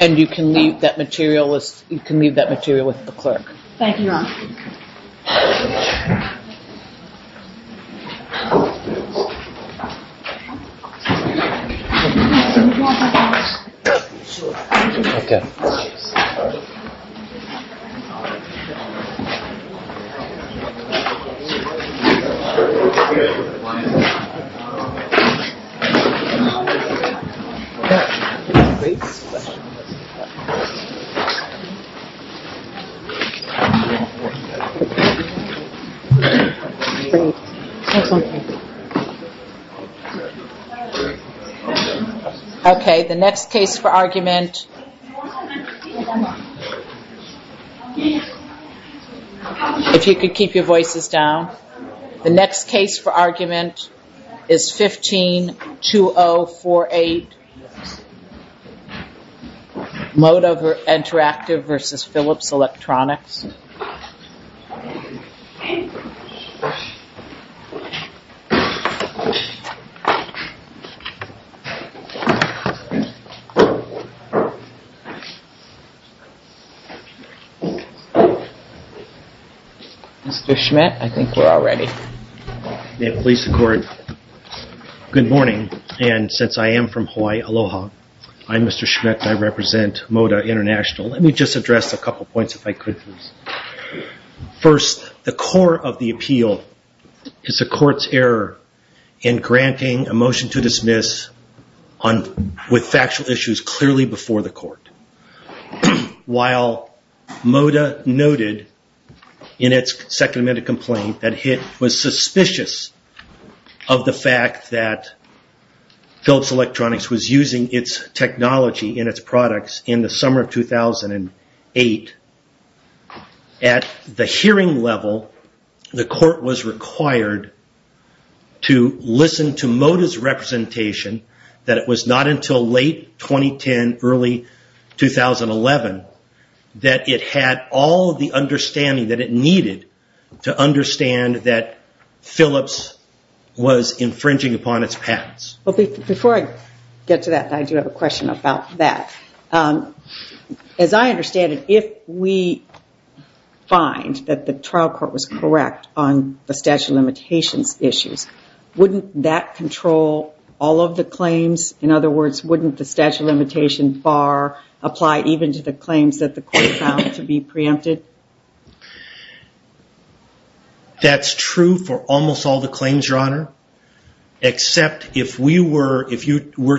And you can leave that material with the clerk. Okay, the next case for argument, if you could keep your voices down, the next case for argument is 15-2048, Moddha Interactive v. Philips Electronics. Mr. Schmidt, I think we're all ready. May it please the court, good morning and since I am from Hawaii, aloha. I'm Mr. Schmidt. I represent Moddha International. Let me just address a couple of points if I could please. First, the core of the appeal is the court's error in granting a motion to dismiss with factual issues clearly before the court. While Moddha noted in its second amendment complaint that HIT was suspicious of the fact that Philips Electronics was using its technology and its products in the summer of 2008, at the hearing level, the court was required to listen to Moddha's representation that it was not until late 2010, early 2011, that it had all the understanding that it needed to understand that Philips was infringing upon its patents. Before I get to that, I do have a question about that. As I understand it, if we find that the trial court was correct on the statute of limitations issues, wouldn't that control all of the claims? In other words, wouldn't the statute of limitations bar apply even to the claims that the court found to be preempted? That's true for almost all the claims, Your Honor, except if you were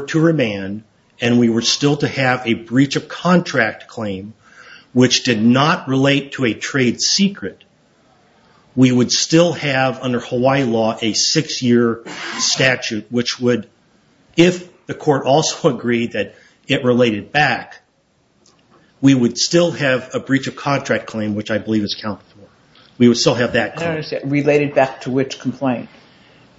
to remand and we were still to have a breach of contract claim, which did not relate to a trade secret, we would still have, under Hawaii law, a six-year statute, which would, if the court also agreed that it related back, we would still have a breach of contract claim, which I believe is accounted for. We would still have that claim. I don't understand. Related back to which complaint?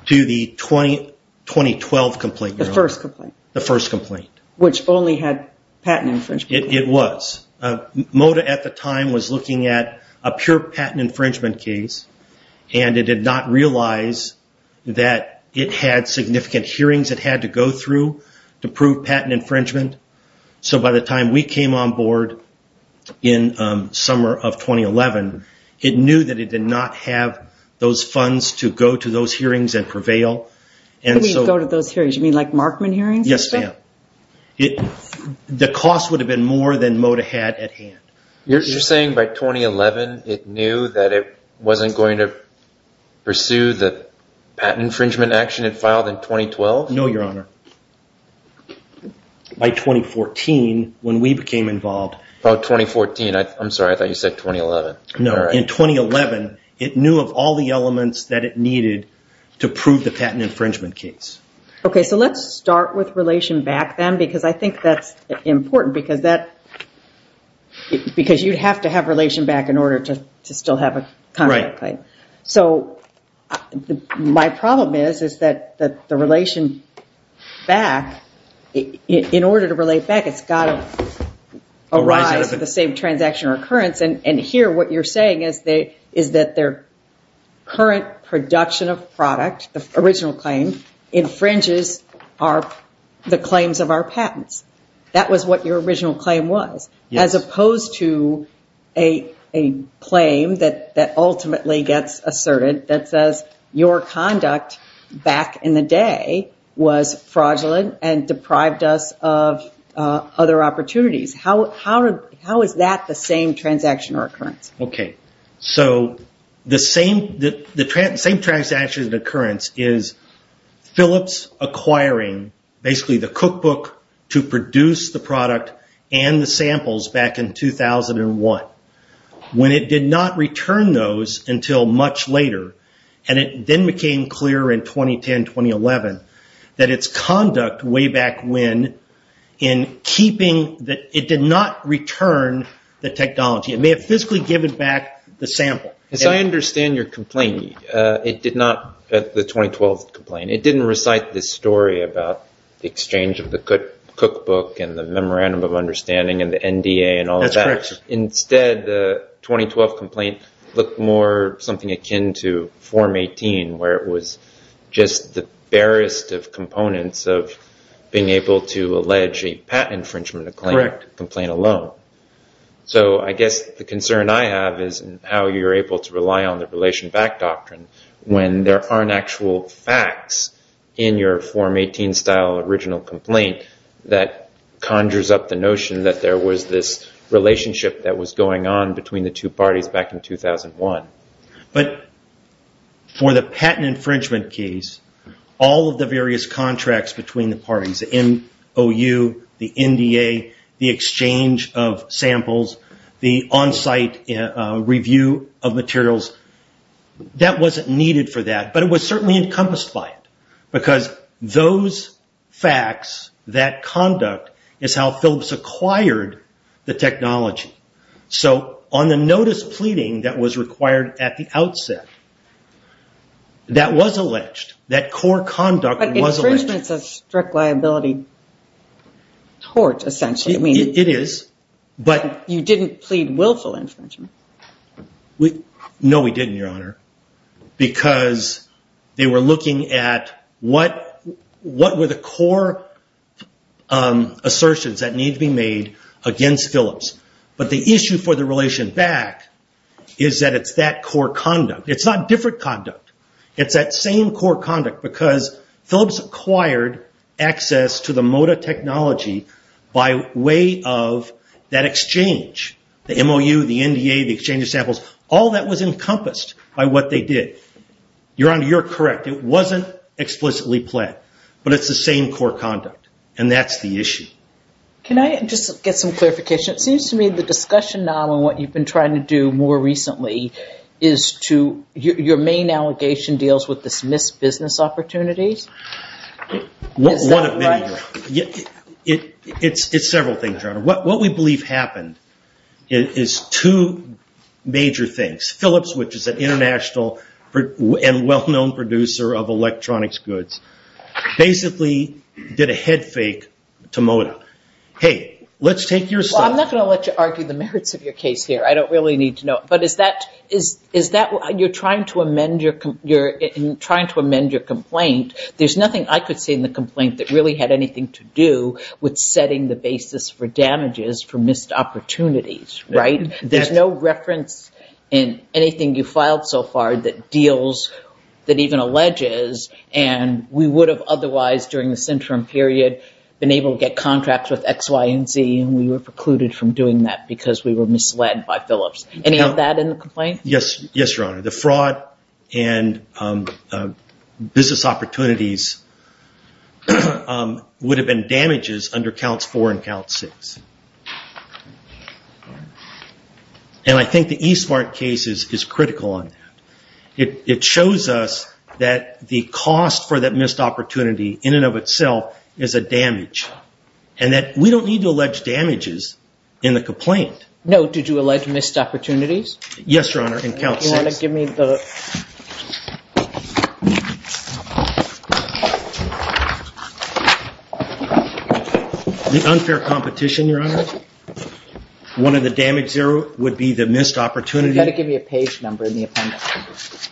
To the 2012 complaint, Your Honor. The first complaint. The first complaint. Which only had patent infringement. It was. Moddha, at the time, was looking at a pure patent infringement case, and it did not realize that it had significant hearings it had to go through to prove patent infringement, so by the time we came on board in summer of 2011, it knew that it did not have those funds to go to those hearings and prevail. What do you mean, go to those hearings? You mean like Markman hearings? Yes, ma'am. You're saying by 2011, it knew that it wasn't going to pursue the patent infringement action it filed in 2012? No, Your Honor. By 2014, when we became involved. Oh, 2014. I'm sorry. I thought you said 2011. No. In 2011, it knew of all the elements that it needed to prove the patent infringement case. Okay. Let's start with Relation Back then, because I think that's important, because you'd have to have Relation Back in order to still have a contract claim. My problem is that the Relation Back, in order to Relate Back, it's got to arise at the same transaction or occurrence, and here, what you're saying is that their current production of product, the original claim, infringes the claims of our patents. That was what your original claim was, as opposed to a claim that ultimately gets asserted that says your conduct back in the day was fraudulent and deprived us of other opportunities. How is that the same transaction or occurrence? Okay. So the same transaction or occurrence is Phillips acquiring, basically, the cookbook to produce the product and the samples back in 2001, when it did not return those until much later, and it then became clear in 2010, 2011, that its conduct way back when, it did not return the technology. It may have physically given back the sample. As I understand your complaint, it did not, the 2012 complaint, it didn't recite this story about the exchange of the cookbook and the memorandum of understanding and the NDA and all of that. That's correct. Instead, the 2012 complaint looked more something akin to Form 18, where it was just the barest of components of being able to allege a patent infringement complaint alone. So I guess the concern I have is how you're able to rely on the relation back doctrine when there aren't actual facts in your Form 18 style original complaint that conjures up the notion that there was this relationship that was going on between the two parties back in 2001. But for the patent infringement case, all of the various contracts between the parties, the MOU, the NDA, the exchange of samples, the on-site review of materials, that wasn't needed for that, but it was certainly encompassed by it, because those facts, that conduct, is how Phillips acquired the technology. So on the notice pleading that was required at the outset, that was alleged. That core conduct was alleged. But infringement is a strict liability tort, essentially. It is. You didn't plead willful infringement. No, we didn't, Your Honor, because they were looking at what were the core assertions that the issue for the relation back is that it's that core conduct. It's not different conduct. It's that same core conduct, because Phillips acquired access to the MOTA technology by way of that exchange, the MOU, the NDA, the exchange of samples, all that was encompassed by what they did. Your Honor, you're correct. It wasn't explicitly pled, but it's the same core conduct, and that's the issue. Can I just get some clarification? It seems to me the discussion, now, on what you've been trying to do more recently is to, your main allegation deals with this mis-business opportunities. Is that right? It's several things, Your Honor. What we believe happened is two major things. Phillips, which is an international and well-known producer of electronics goods, basically did a head fake to MOTA. Hey, let's take your side. I'm not going to let you argue the merits of your case here. I don't really need to know. You're trying to amend your complaint. There's nothing I could see in the complaint that really had anything to do with setting the basis for damages for missed opportunities, right? There's no reference in anything you filed so far that deals, that even alleges, and we would have otherwise, during this interim period, been able to get contracts with X, Y, and Z, and we were precluded from doing that because we were misled by Phillips. Any of that in the complaint? Yes, Your Honor. The fraud and business opportunities would have been damages under Counts 4 and Counts 6. I think the eSmart case is critical on that. It shows us that the cost for that missed opportunity, in and of itself, is a damage, and that we don't need to allege damages in the complaint. No, did you allege missed opportunities? Yes, Your Honor. In Counts 6. You want to give me the... The unfair competition, Your Honor. One of the damage zero would be the missed opportunity. You've got to give me a page number in the appendix.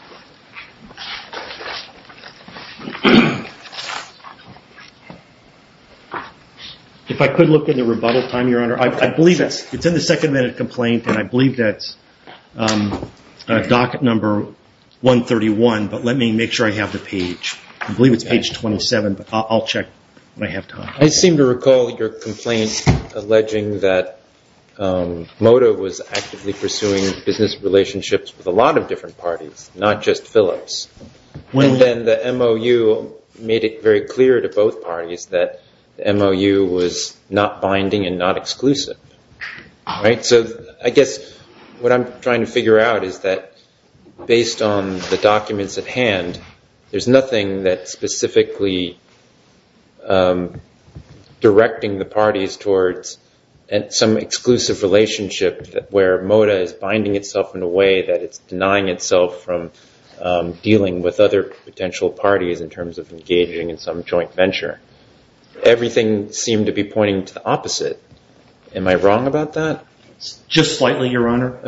If I could look in the rebuttal time, Your Honor, I believe it's in the second minute complaint and I believe that's docket number 131, but let me make sure I have the page. I believe it's page 27, but I'll check when I have time. I seem to recall your complaint alleging that MOTA was actively pursuing business relationships with a lot of different parties, not just Phillips, and then the MOU made it very clear to both parties that the MOU was not binding and not exclusive. I guess what I'm trying to figure out is that based on the documents at hand, there's nothing that specifically directing the parties towards some exclusive relationship where MOTA is binding itself in a way that it's denying itself from dealing with other potential parties in terms of engaging in some joint venture. Everything seemed to be pointing to the opposite. Am I wrong about that? Just slightly, Your Honor.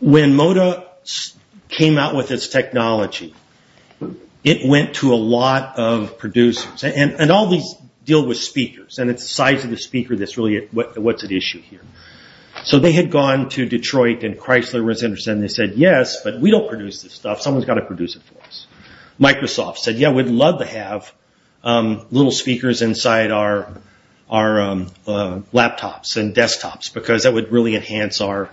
When MOTA came out with its technology, it went to a lot of producers and all these deal with speakers and it's the size of the speaker that's really what's at issue here. They had gone to Detroit and Chrysler was interested and they said, yes, but we don't produce this stuff. Someone's got to produce it for us. Microsoft said, yes, we'd love to have little speakers inside our laptops and desktops because that would really enhance our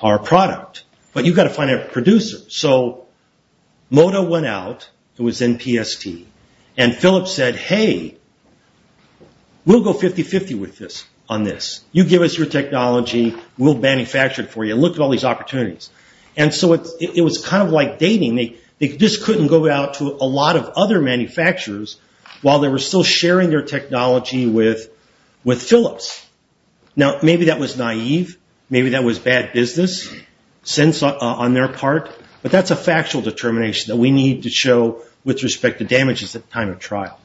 product, but you've got to find a producer. MOTA went out, it was in PST, and Phillips said, hey, we'll go 50-50 on this. You give us your technology, we'll manufacture it for you. Look at all these opportunities. It was kind of like dating. They just couldn't go out to a lot of other manufacturers while they were still sharing their technology with Phillips. Now, maybe that was naive. Maybe that was bad business on their part, but that's a factual determination that we need to show with respect to damages at the time of trial.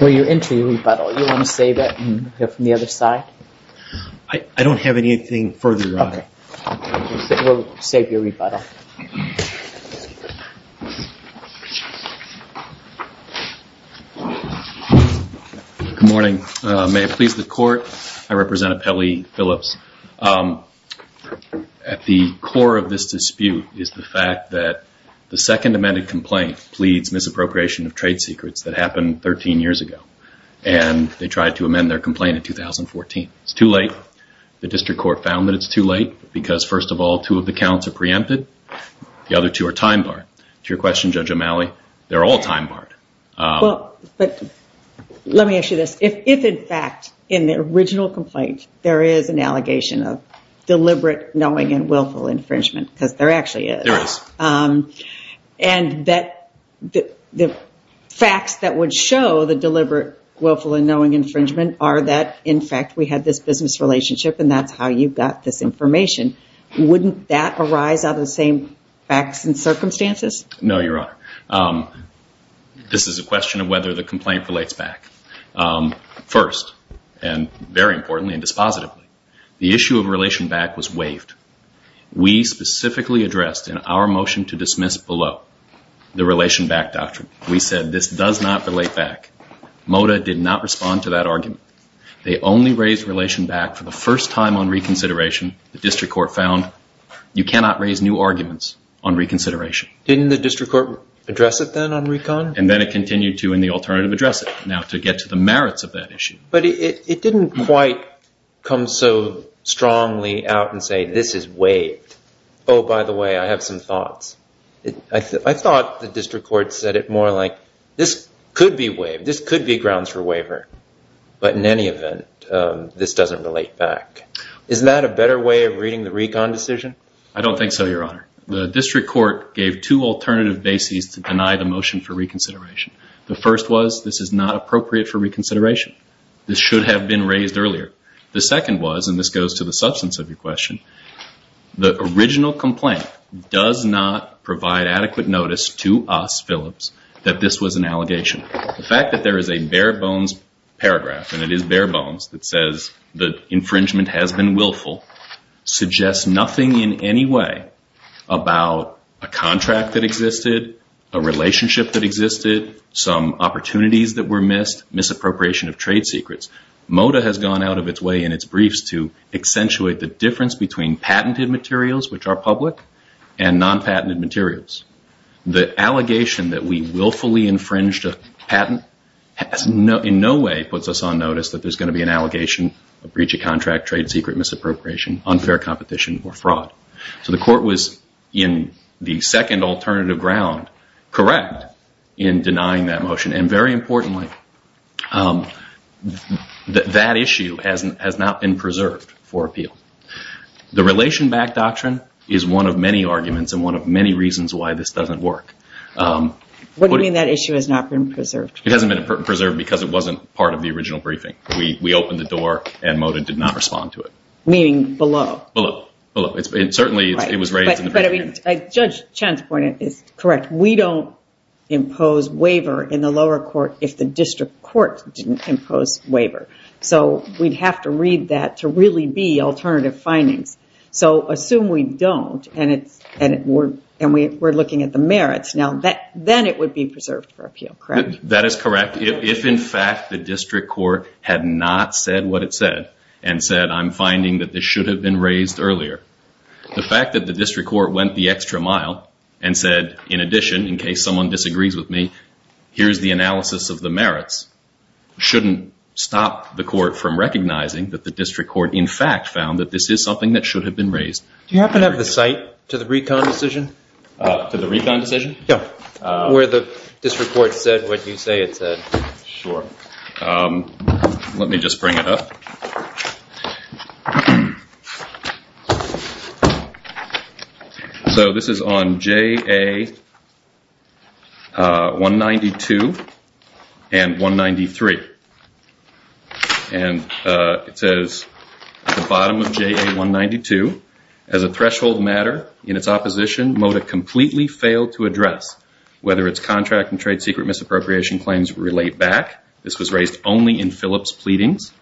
Well, you're into the rebuttal. You want to save it and go from the other side? I don't have anything further on it. Okay. We'll save your rebuttal. Good morning. May it please the court, I represent Apelli Phillips. At the core of this dispute is the fact that the second amended complaint pleads misappropriation of trade secrets that happened 13 years ago, and they tried to amend their complaint in 2014. It's too late. The district court found that it's too late because, first of all, two of the counts are preempted. The other two are time barred. To your question, Judge O'Malley, they're all time barred. Let me ask you this. If, in fact, in the original complaint, there is an allegation of deliberate, knowing, and willful infringement, because there actually is, and the facts that would show the deliberate, willful, and knowing infringement are that, in fact, we had this business relationship, and that's how you got this information, wouldn't that arise out of the same facts and circumstances? No, Your Honor. This is a question of whether the complaint relates back. First, and very importantly and dispositively, the issue of relation back was waived. We specifically addressed in our motion to dismiss below the relation back doctrine. We said this does not relate back. MOTA did not respond to that argument. They only raised relation back for the first time on reconsideration. The district court found you cannot raise new arguments on reconsideration. Didn't the district court address it then on recon? And then it continued to in the alternative address it, now to get to the merits of that issue. But it didn't quite come so strongly out and say this is waived. Oh, by the way, I have some thoughts. I thought the district court said it more like this could be waived. This could be grounds for waiver. But in any event, this doesn't relate back. Isn't that a better way of reading the recon decision? I don't think so, Your Honor. The district court gave two alternative bases to deny the motion for reconsideration. The first was this is not appropriate for reconsideration. This should have been raised earlier. The second was, and this goes to the substance of your question, the original complaint does not provide adequate notice to us, Phillips, that this was an allegation. The fact that there is a bare bones paragraph, and it is bare bones, that says the infringement has been willful suggests nothing in any way about a contract that existed, a relationship that existed, some opportunities that were missed, misappropriation of trade secrets. MOTA has gone out of its way in its briefs to accentuate the difference between patented materials, which are public, and non-patented materials. The allegation that we willfully infringed a patent in no way puts us on notice that there's going to be an allegation of breach of contract, trade secret, misappropriation, unfair competition, or fraud. So the court was in the second alternative ground correct in denying that motion, and very importantly, that issue has not been preserved for appeal. The relation back doctrine is one of many arguments and one of many reasons why this doesn't work. What do you mean that issue has not been preserved? It hasn't been preserved because it wasn't part of the original briefing. We opened the door, and MOTA did not respond to it. Meaning below. Below. Certainly it was raised in the briefing. Judge Chen's point is correct. We don't impose waiver in the lower court if the district court didn't impose waiver. So we'd have to read that to really be alternative findings. So assume we don't, and we're looking at the merits. Then it would be preserved for appeal, correct? That is correct. If, in fact, the district court had not said what it said, and said, I'm finding that this should have been raised earlier, the fact that the district court went the extra mile and said, in addition, in case someone disagrees with me, here's the analysis of the merits, shouldn't stop the court from recognizing that the district court, in fact, found that this is something that should have been raised. Do you happen to have the site to the recon decision? To the recon decision? Yeah. Where the district court said what you say it said. Sure. Let me just bring it up. So this is on JA-192 and 193. And it says at the bottom of JA-192, as a threshold matter in its opposition, MoDA completely failed to address whether its contract and trade secret misappropriation claims relate back. This was raised only in Phillips' pleadings.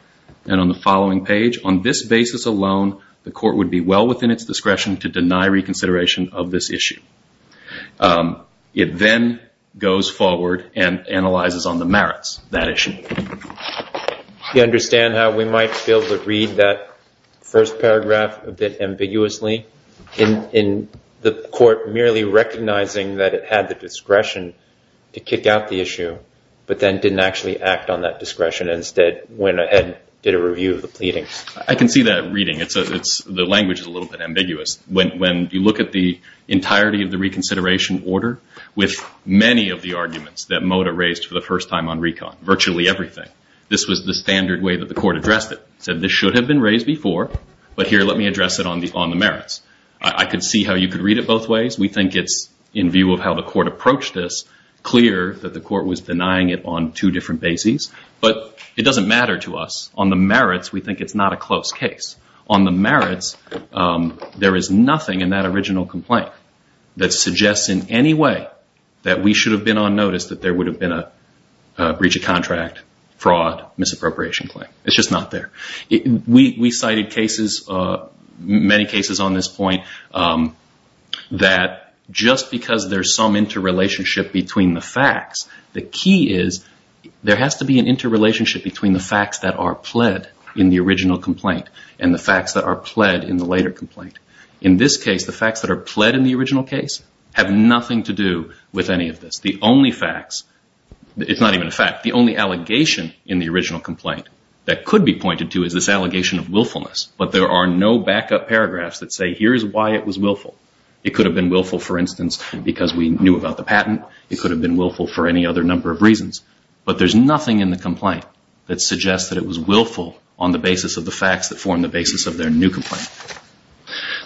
And on the following page, on this basis alone, the court would be well within its discretion to deny reconsideration of this issue. It then goes forward and analyzes on the merits of that issue. Do you understand how we might be able to read that first paragraph a bit ambiguously? In the court merely recognizing that it had the discretion to kick out the issue, but then didn't actually act on that discretion and instead went ahead and did a review of the pleadings. I can see that reading. The language is a little bit ambiguous. When you look at the entirety of the reconsideration order, with many of the arguments that MoDA raised for the first time on recon, virtually everything, this was the standard way that the court addressed it. It said this should have been raised before, but here, let me address it on the merits. I could see how you could read it both ways. We think it's, in view of how the court approached this, clear that the court was denying it on two different bases. But it doesn't matter to us. On the merits, we think it's not a close case. On the merits, there is nothing in that original complaint that suggests in any way that we should have been on notice that there would have been a breach of contract, fraud, misappropriation claim. It's just not there. We cited cases, many cases on this point, that just because there's some interrelationship between the facts, the key is there has to be an interrelationship between the facts that are pled in the original complaint and the facts that are pled in the later complaint. In this case, the facts that are pled in the original case have nothing to do with any of this. The only facts, it's not even a fact, the only allegation in the original complaint that could be pointed to is this allegation of willfulness. But there are no backup paragraphs that say here is why it was willful. It could have been willful, for instance, because we knew about the patent. It could have been willful for any other number of reasons. But there's nothing in the complaint that suggests that it was willful on the basis of the facts that form the basis of their new complaint.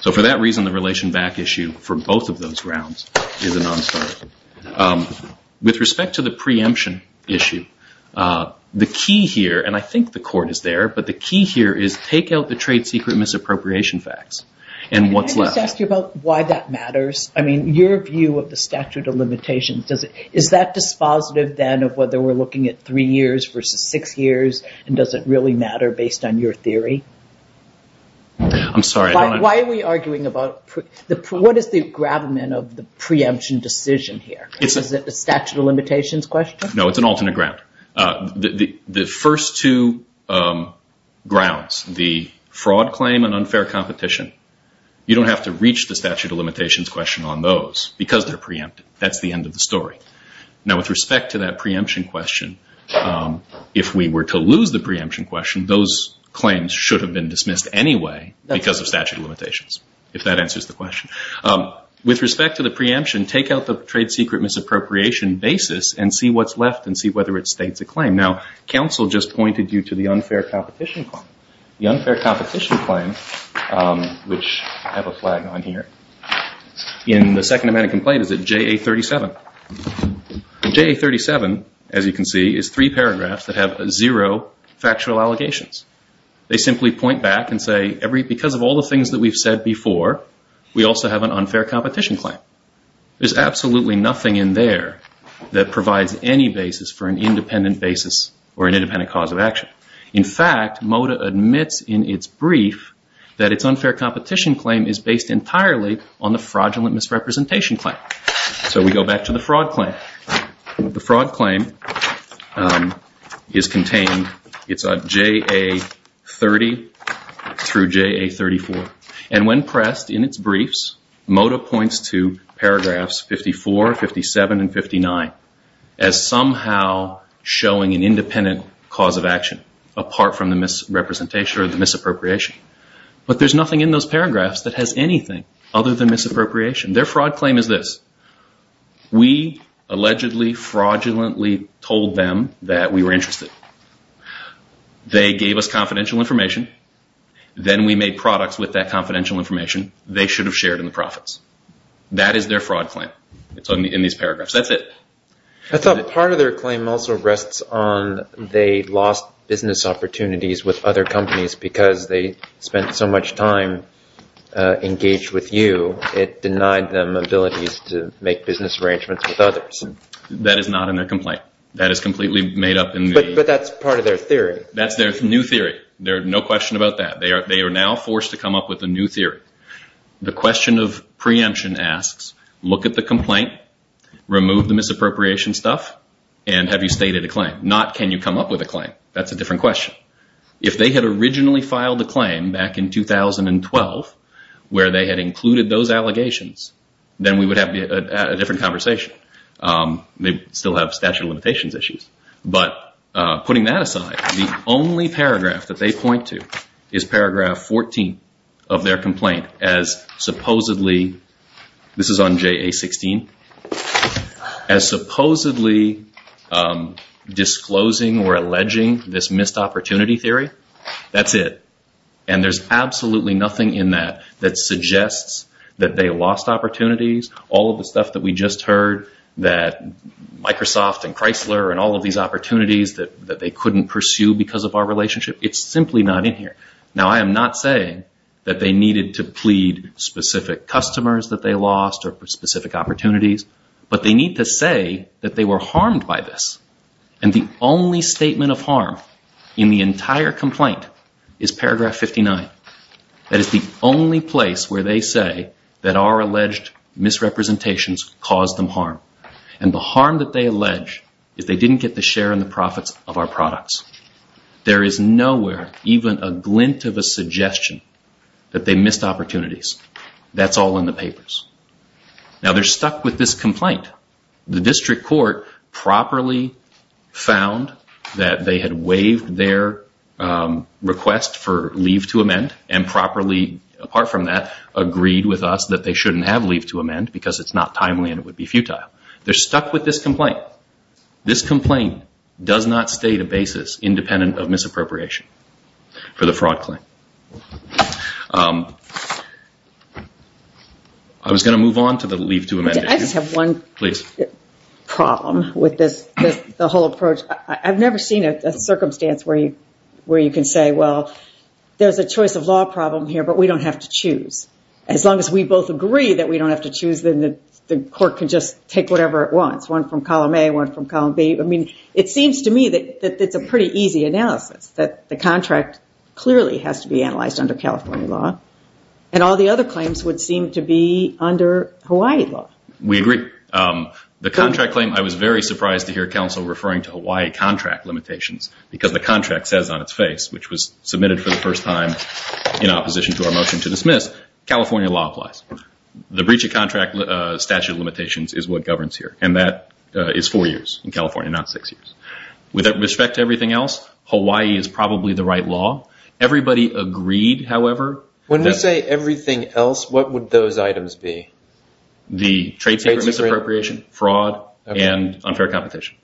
So for that reason, the relation back issue for both of those grounds is a non-starter. With respect to the preemption issue, the key here, and I think the court is there, but the key here is take out the trade secret misappropriation facts and what's left. Can I just ask you about why that matters? I mean, your view of the statute of limitations, is that dispositive then of whether we're looking at three years versus six years and does it really matter based on your theory? I'm sorry. Why are we arguing about what is the gravamen of the preemption decision here? Is it the statute of limitations question? No, it's an alternate ground. The first two grounds, the fraud claim and unfair competition, you don't have to reach the statute of limitations question on those because they're preempted. That's the end of the story. Now, with respect to that preemption question, if we were to lose the preemption question, those claims should have been dismissed anyway because of statute of limitations, if that answers the question. With respect to the preemption, take out the trade secret misappropriation basis and see what's left and see whether it states a claim. Now, counsel just pointed you to the unfair competition claim. The unfair competition claim, which I have a flag on here, in the second amendment complaint is at JA37. JA37, as you can see, is three paragraphs that have zero factual allegations. They simply point back and say, because of all the things that we've said before, we also have an unfair competition claim. There's absolutely nothing in there that provides any basis for an independent basis or an independent cause of action. In fact, MOTA admits in its brief that its unfair competition claim is based entirely on the fraudulent misrepresentation claim. So we go back to the fraud claim. The fraud claim is contained. It's at JA30 through JA34. And when pressed in its briefs, MOTA points to paragraphs 54, 57, and 59 as somehow showing an independent cause of action, apart from the misrepresentation or the misappropriation. But there's nothing in those paragraphs that has anything other than misappropriation. Their fraud claim is this. We allegedly fraudulently told them that we were interested. They gave us confidential information. Then we made products with that confidential information. They should have shared in the profits. That is their fraud claim. It's in these paragraphs. That's it. I thought part of their claim also rests on they lost business opportunities with other companies because they spent so much time engaged with you. It denied them abilities to make business arrangements with others. That is not in their complaint. That is completely made up. But that's part of their theory. That's their new theory. There's no question about that. They are now forced to come up with a new theory. The question of preemption asks, look at the complaint, remove the misappropriation stuff, and have you stated a claim? Not can you come up with a claim. That's a different question. If they had originally filed a claim back in 2012 where they had included those allegations, then we would have a different conversation. They still have statute of limitations issues. But putting that aside, the only paragraph that they point to is paragraph 14 of their complaint as supposedly, this is on JA-16, as supposedly disclosing or alleging this missed opportunity theory. That's it. And there's absolutely nothing in that that suggests that they lost opportunities. All of the stuff that we just heard, that Microsoft and Chrysler and all of these opportunities that they couldn't pursue because of our relationship, it's simply not in here. Now, I am not saying that they needed to plead specific customers that they lost or specific opportunities. But they need to say that they were harmed by this. And the only statement of harm in the entire complaint is paragraph 59. That is the only place where they say that our alleged misrepresentations caused them harm. And the harm that they allege is they didn't get the share and the profits of our products. There is nowhere even a glint of a suggestion that they missed opportunities. That's all in the papers. Now, they're stuck with this complaint. The district court properly found that they had waived their request for leave to amend and properly, apart from that, agreed with us that they shouldn't have leave to amend because it's not timely and it would be futile. They're stuck with this complaint. This complaint does not state a basis independent of misappropriation for the fraud claim. I was going to move on to the leave to amend issue. I just have one problem with the whole approach. I've never seen a circumstance where you can say, well, there's a choice of law problem here, but we don't have to choose. As long as we both agree that we don't have to choose, then the court can just take whatever it wants, one from column A, one from column B. I mean, it seems to me that it's a pretty easy analysis, that the contract clearly has to be analyzed under California law. And all the other claims would seem to be under Hawaii law. We agree. The contract claim, I was very surprised to hear counsel referring to Hawaii contract limitations, because the contract says on its face, which was submitted for the first time in opposition to our motion to dismiss, California law applies. The breach of contract statute of limitations is what governs here, and that is four years in California, not six years. With respect to everything else, Hawaii is probably the right law. Everybody agreed, however. When you say everything else, what would those items be? The trade secret misappropriation, fraud, and unfair competition.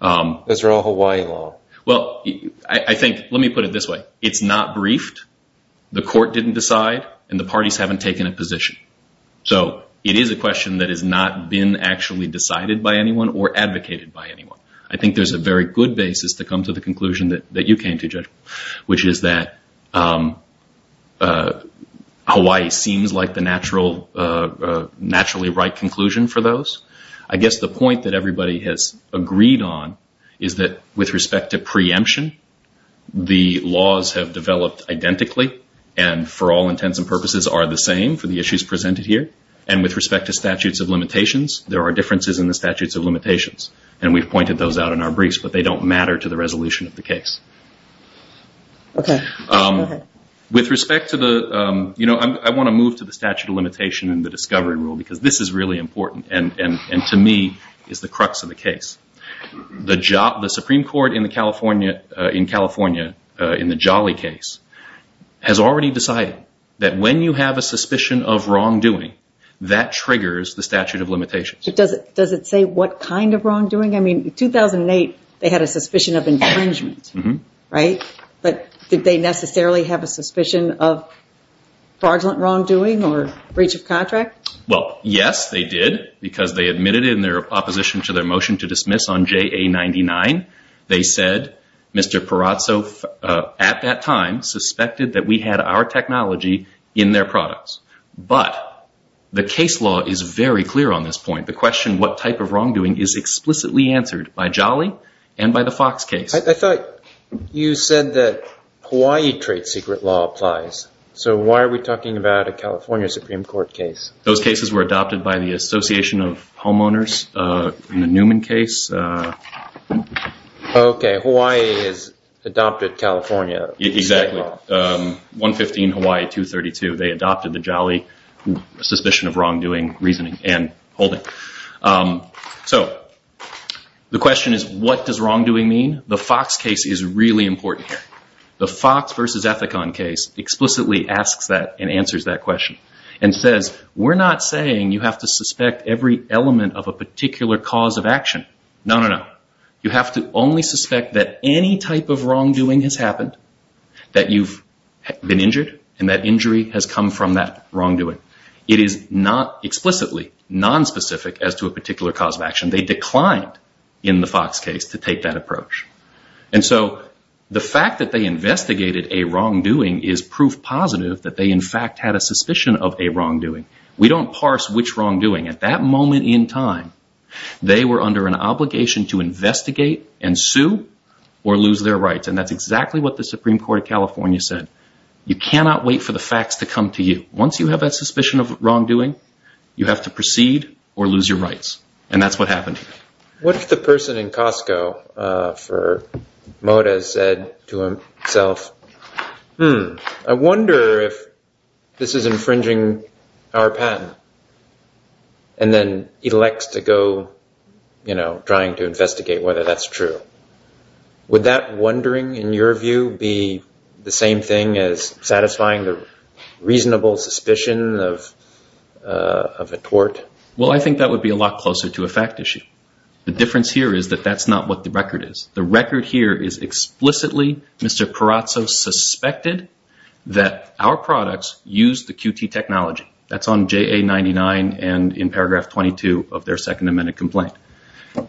Those are all Hawaii law. Well, I think, let me put it this way. It's not briefed. The court didn't decide, and the parties haven't taken a position. So it is a question that has not been actually decided by anyone or advocated by anyone. I think there's a very good basis to come to the conclusion that you came to, Judge, which is that Hawaii seems like the naturally right conclusion for those. I guess the point that everybody has agreed on is that with respect to preemption, the laws have developed identically, and for all intents and purposes are the same for the issues presented here. And with respect to statutes of limitations, there are differences in the statutes of limitations. And we've pointed those out in our briefs, but they don't matter to the resolution of the case. Okay. Go ahead. With respect to the, you know, I want to move to the statute of limitation and the discovery rule, because this is really important and to me is the crux of the case. The Supreme Court in California in the Jolly case has already decided that when you have a suspicion of wrongdoing, that triggers the statute of limitations. Does it say what kind of wrongdoing? I mean, in 2008, they had a suspicion of infringement, right? But did they necessarily have a suspicion of fraudulent wrongdoing or breach of contract? Well, yes, they did, because they admitted in their opposition to their motion to dismiss on JA99, they said Mr. Perazzo at that time suspected that we had our technology in their products. But the case law is very clear on this point. The question what type of wrongdoing is explicitly answered by Jolly and by the Fox case. I thought you said that Hawaii trade secret law applies. So why are we talking about a California Supreme Court case? Those cases were adopted by the Association of Homeowners in the Newman case. Okay. Hawaii has adopted California. Exactly. 115 Hawaii 232. They adopted the Jolly suspicion of wrongdoing reasoning and holding. So the question is what does wrongdoing mean? The Fox case is really important here. The Fox versus Ethicon case explicitly asks that and answers that question and says we're not saying you have to suspect every element of a particular cause of action. No, no, no. You have to only suspect that any type of wrongdoing has happened, that you've been injured and that injury has come from that wrongdoing. It is not explicitly nonspecific as to a particular cause of action. They declined in the Fox case to take that approach. And so the fact that they investigated a wrongdoing is proof positive that they in fact had a suspicion of a wrongdoing. We don't parse which wrongdoing. At that moment in time, they were under an obligation to investigate and sue or lose their rights. And that's exactly what the Supreme Court of California said. You cannot wait for the facts to come to you. Once you have a suspicion of wrongdoing, you have to proceed or lose your rights. And that's what happened. What if the person in Costco for Moda said to himself, I wonder if this is infringing our patent and then elects to go trying to investigate whether that's true. Would that wondering, in your view, be the same thing as satisfying the reasonable suspicion of a tort? Well, I think that would be a lot closer to a fact issue. The difference here is that that's not what the record is. The record here is explicitly Mr. Perazzo suspected that our products use the QT technology. That's on JA99 and in paragraph 22 of their Second Amendment complaint.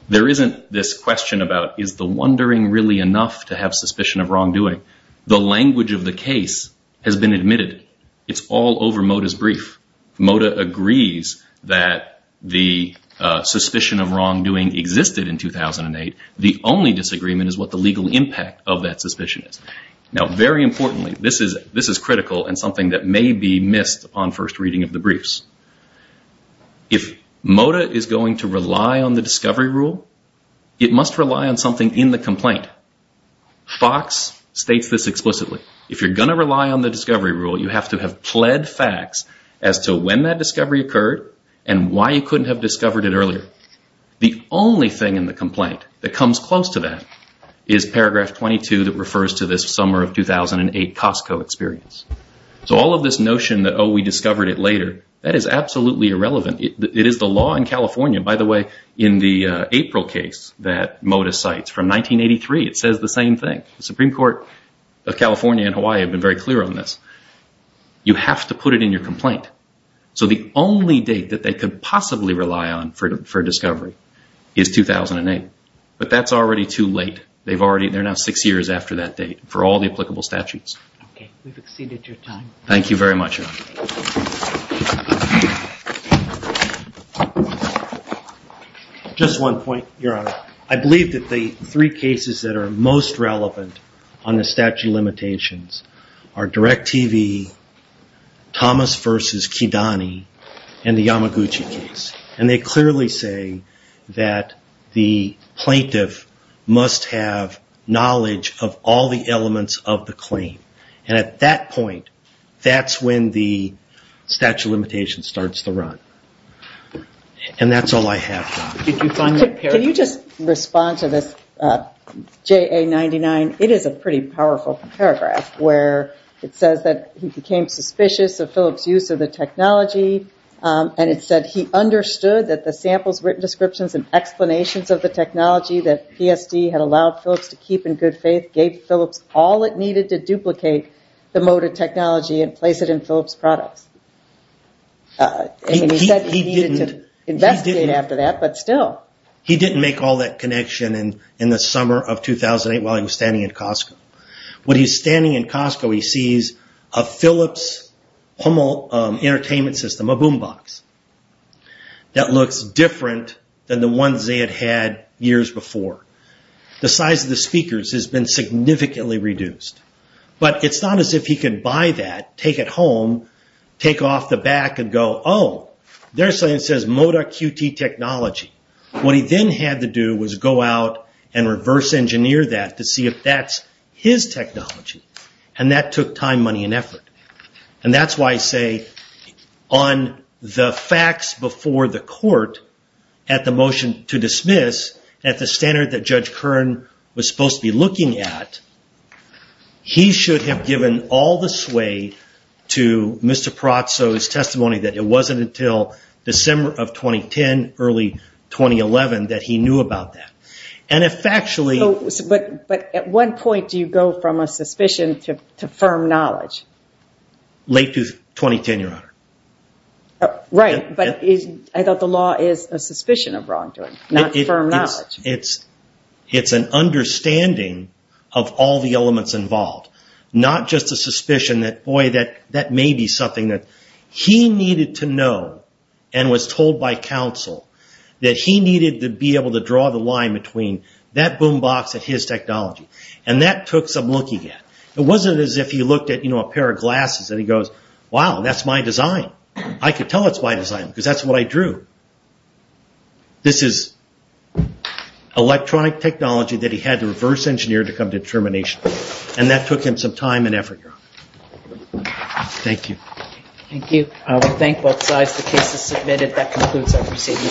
There isn't this question about is the wondering really enough to have suspicion of wrongdoing? The language of the case has been admitted. It's all over Moda's brief. Moda agrees that the suspicion of wrongdoing existed in 2008. The only disagreement is what the legal impact of that suspicion is. Now, very importantly, this is critical and something that may be missed on first reading of the briefs. If Moda is going to rely on the discovery rule, it must rely on something in the complaint. Fox states this explicitly. If you're going to rely on the discovery rule, you have to have pled facts as to when that discovery occurred and why you couldn't have discovered it earlier. The only thing in the complaint that comes close to that is paragraph 22 that refers to this summer of 2008 Costco experience. So all of this notion that, oh, we discovered it later, that is absolutely irrelevant. It is the law in California. By the way, in the April case that Moda cites from 1983, it says the same thing. The Supreme Court of California and Hawaii have been very clear on this. You have to put it in your complaint. So the only date that they could possibly rely on for discovery is 2008. But that's already too late. They're now six years after that date for all the applicable statutes. Okay. We've exceeded your time. Thank you very much, Your Honor. Just one point, Your Honor. I believe that the three cases that are most relevant on the statute of limitations are DIRECTV, Thomas v. Kidani, and the Yamaguchi case. And they clearly say that the plaintiff must have knowledge of all the elements of the claim. And at that point, that's when the statute of limitations starts to run. And that's all I have, Your Honor. Can you just respond to this JA99? It is a pretty powerful paragraph where it says that he became suspicious of Phillips' use of the technology. And it said he understood that the samples, written descriptions, and explanations of the technology that PSD had allowed Phillips to keep in good faith gave Phillips all it needed to duplicate the motor technology and place it in Phillips' products. And he said he needed to investigate after that, but still. He didn't make all that connection in the summer of 2008 while he was standing in Costco. When he's standing in Costco, he sees a Phillips home entertainment system, a boom box, that looks different than the ones they had had years before. The size of the speakers has been significantly reduced. But it's not as if he could buy that, take it home, take off the back and go, oh, there's something that says motor QT technology. What he then had to do was go out and reverse engineer that to see if that's his technology. And that took time, money, and effort. And that's why I say on the facts before the court at the motion to dismiss, at the standard that Judge Kern was supposed to be looking at, he should have given all the sway to Mr. Pratso's testimony that it wasn't until December of 2010, early 2011, that he knew about that. But at what point do you go from a suspicion to firm knowledge? Late to 2010, Your Honor. Right, but I thought the law is a suspicion of wrongdoing, not firm knowledge. It's an understanding of all the elements involved. Not just a suspicion that, boy, that may be something that he needed to know and was told by counsel that he needed to be able to draw the line between that boom box and his technology. And that took some looking at. It wasn't as if he looked at a pair of glasses and he goes, wow, that's my design. I could tell it's my design because that's what I drew. This is electronic technology that he had to reverse engineer to come to determination. And that took him some time and effort, Your Honor. Thank you. Thank you. I will thank both sides. The case is submitted. That concludes our proceedings.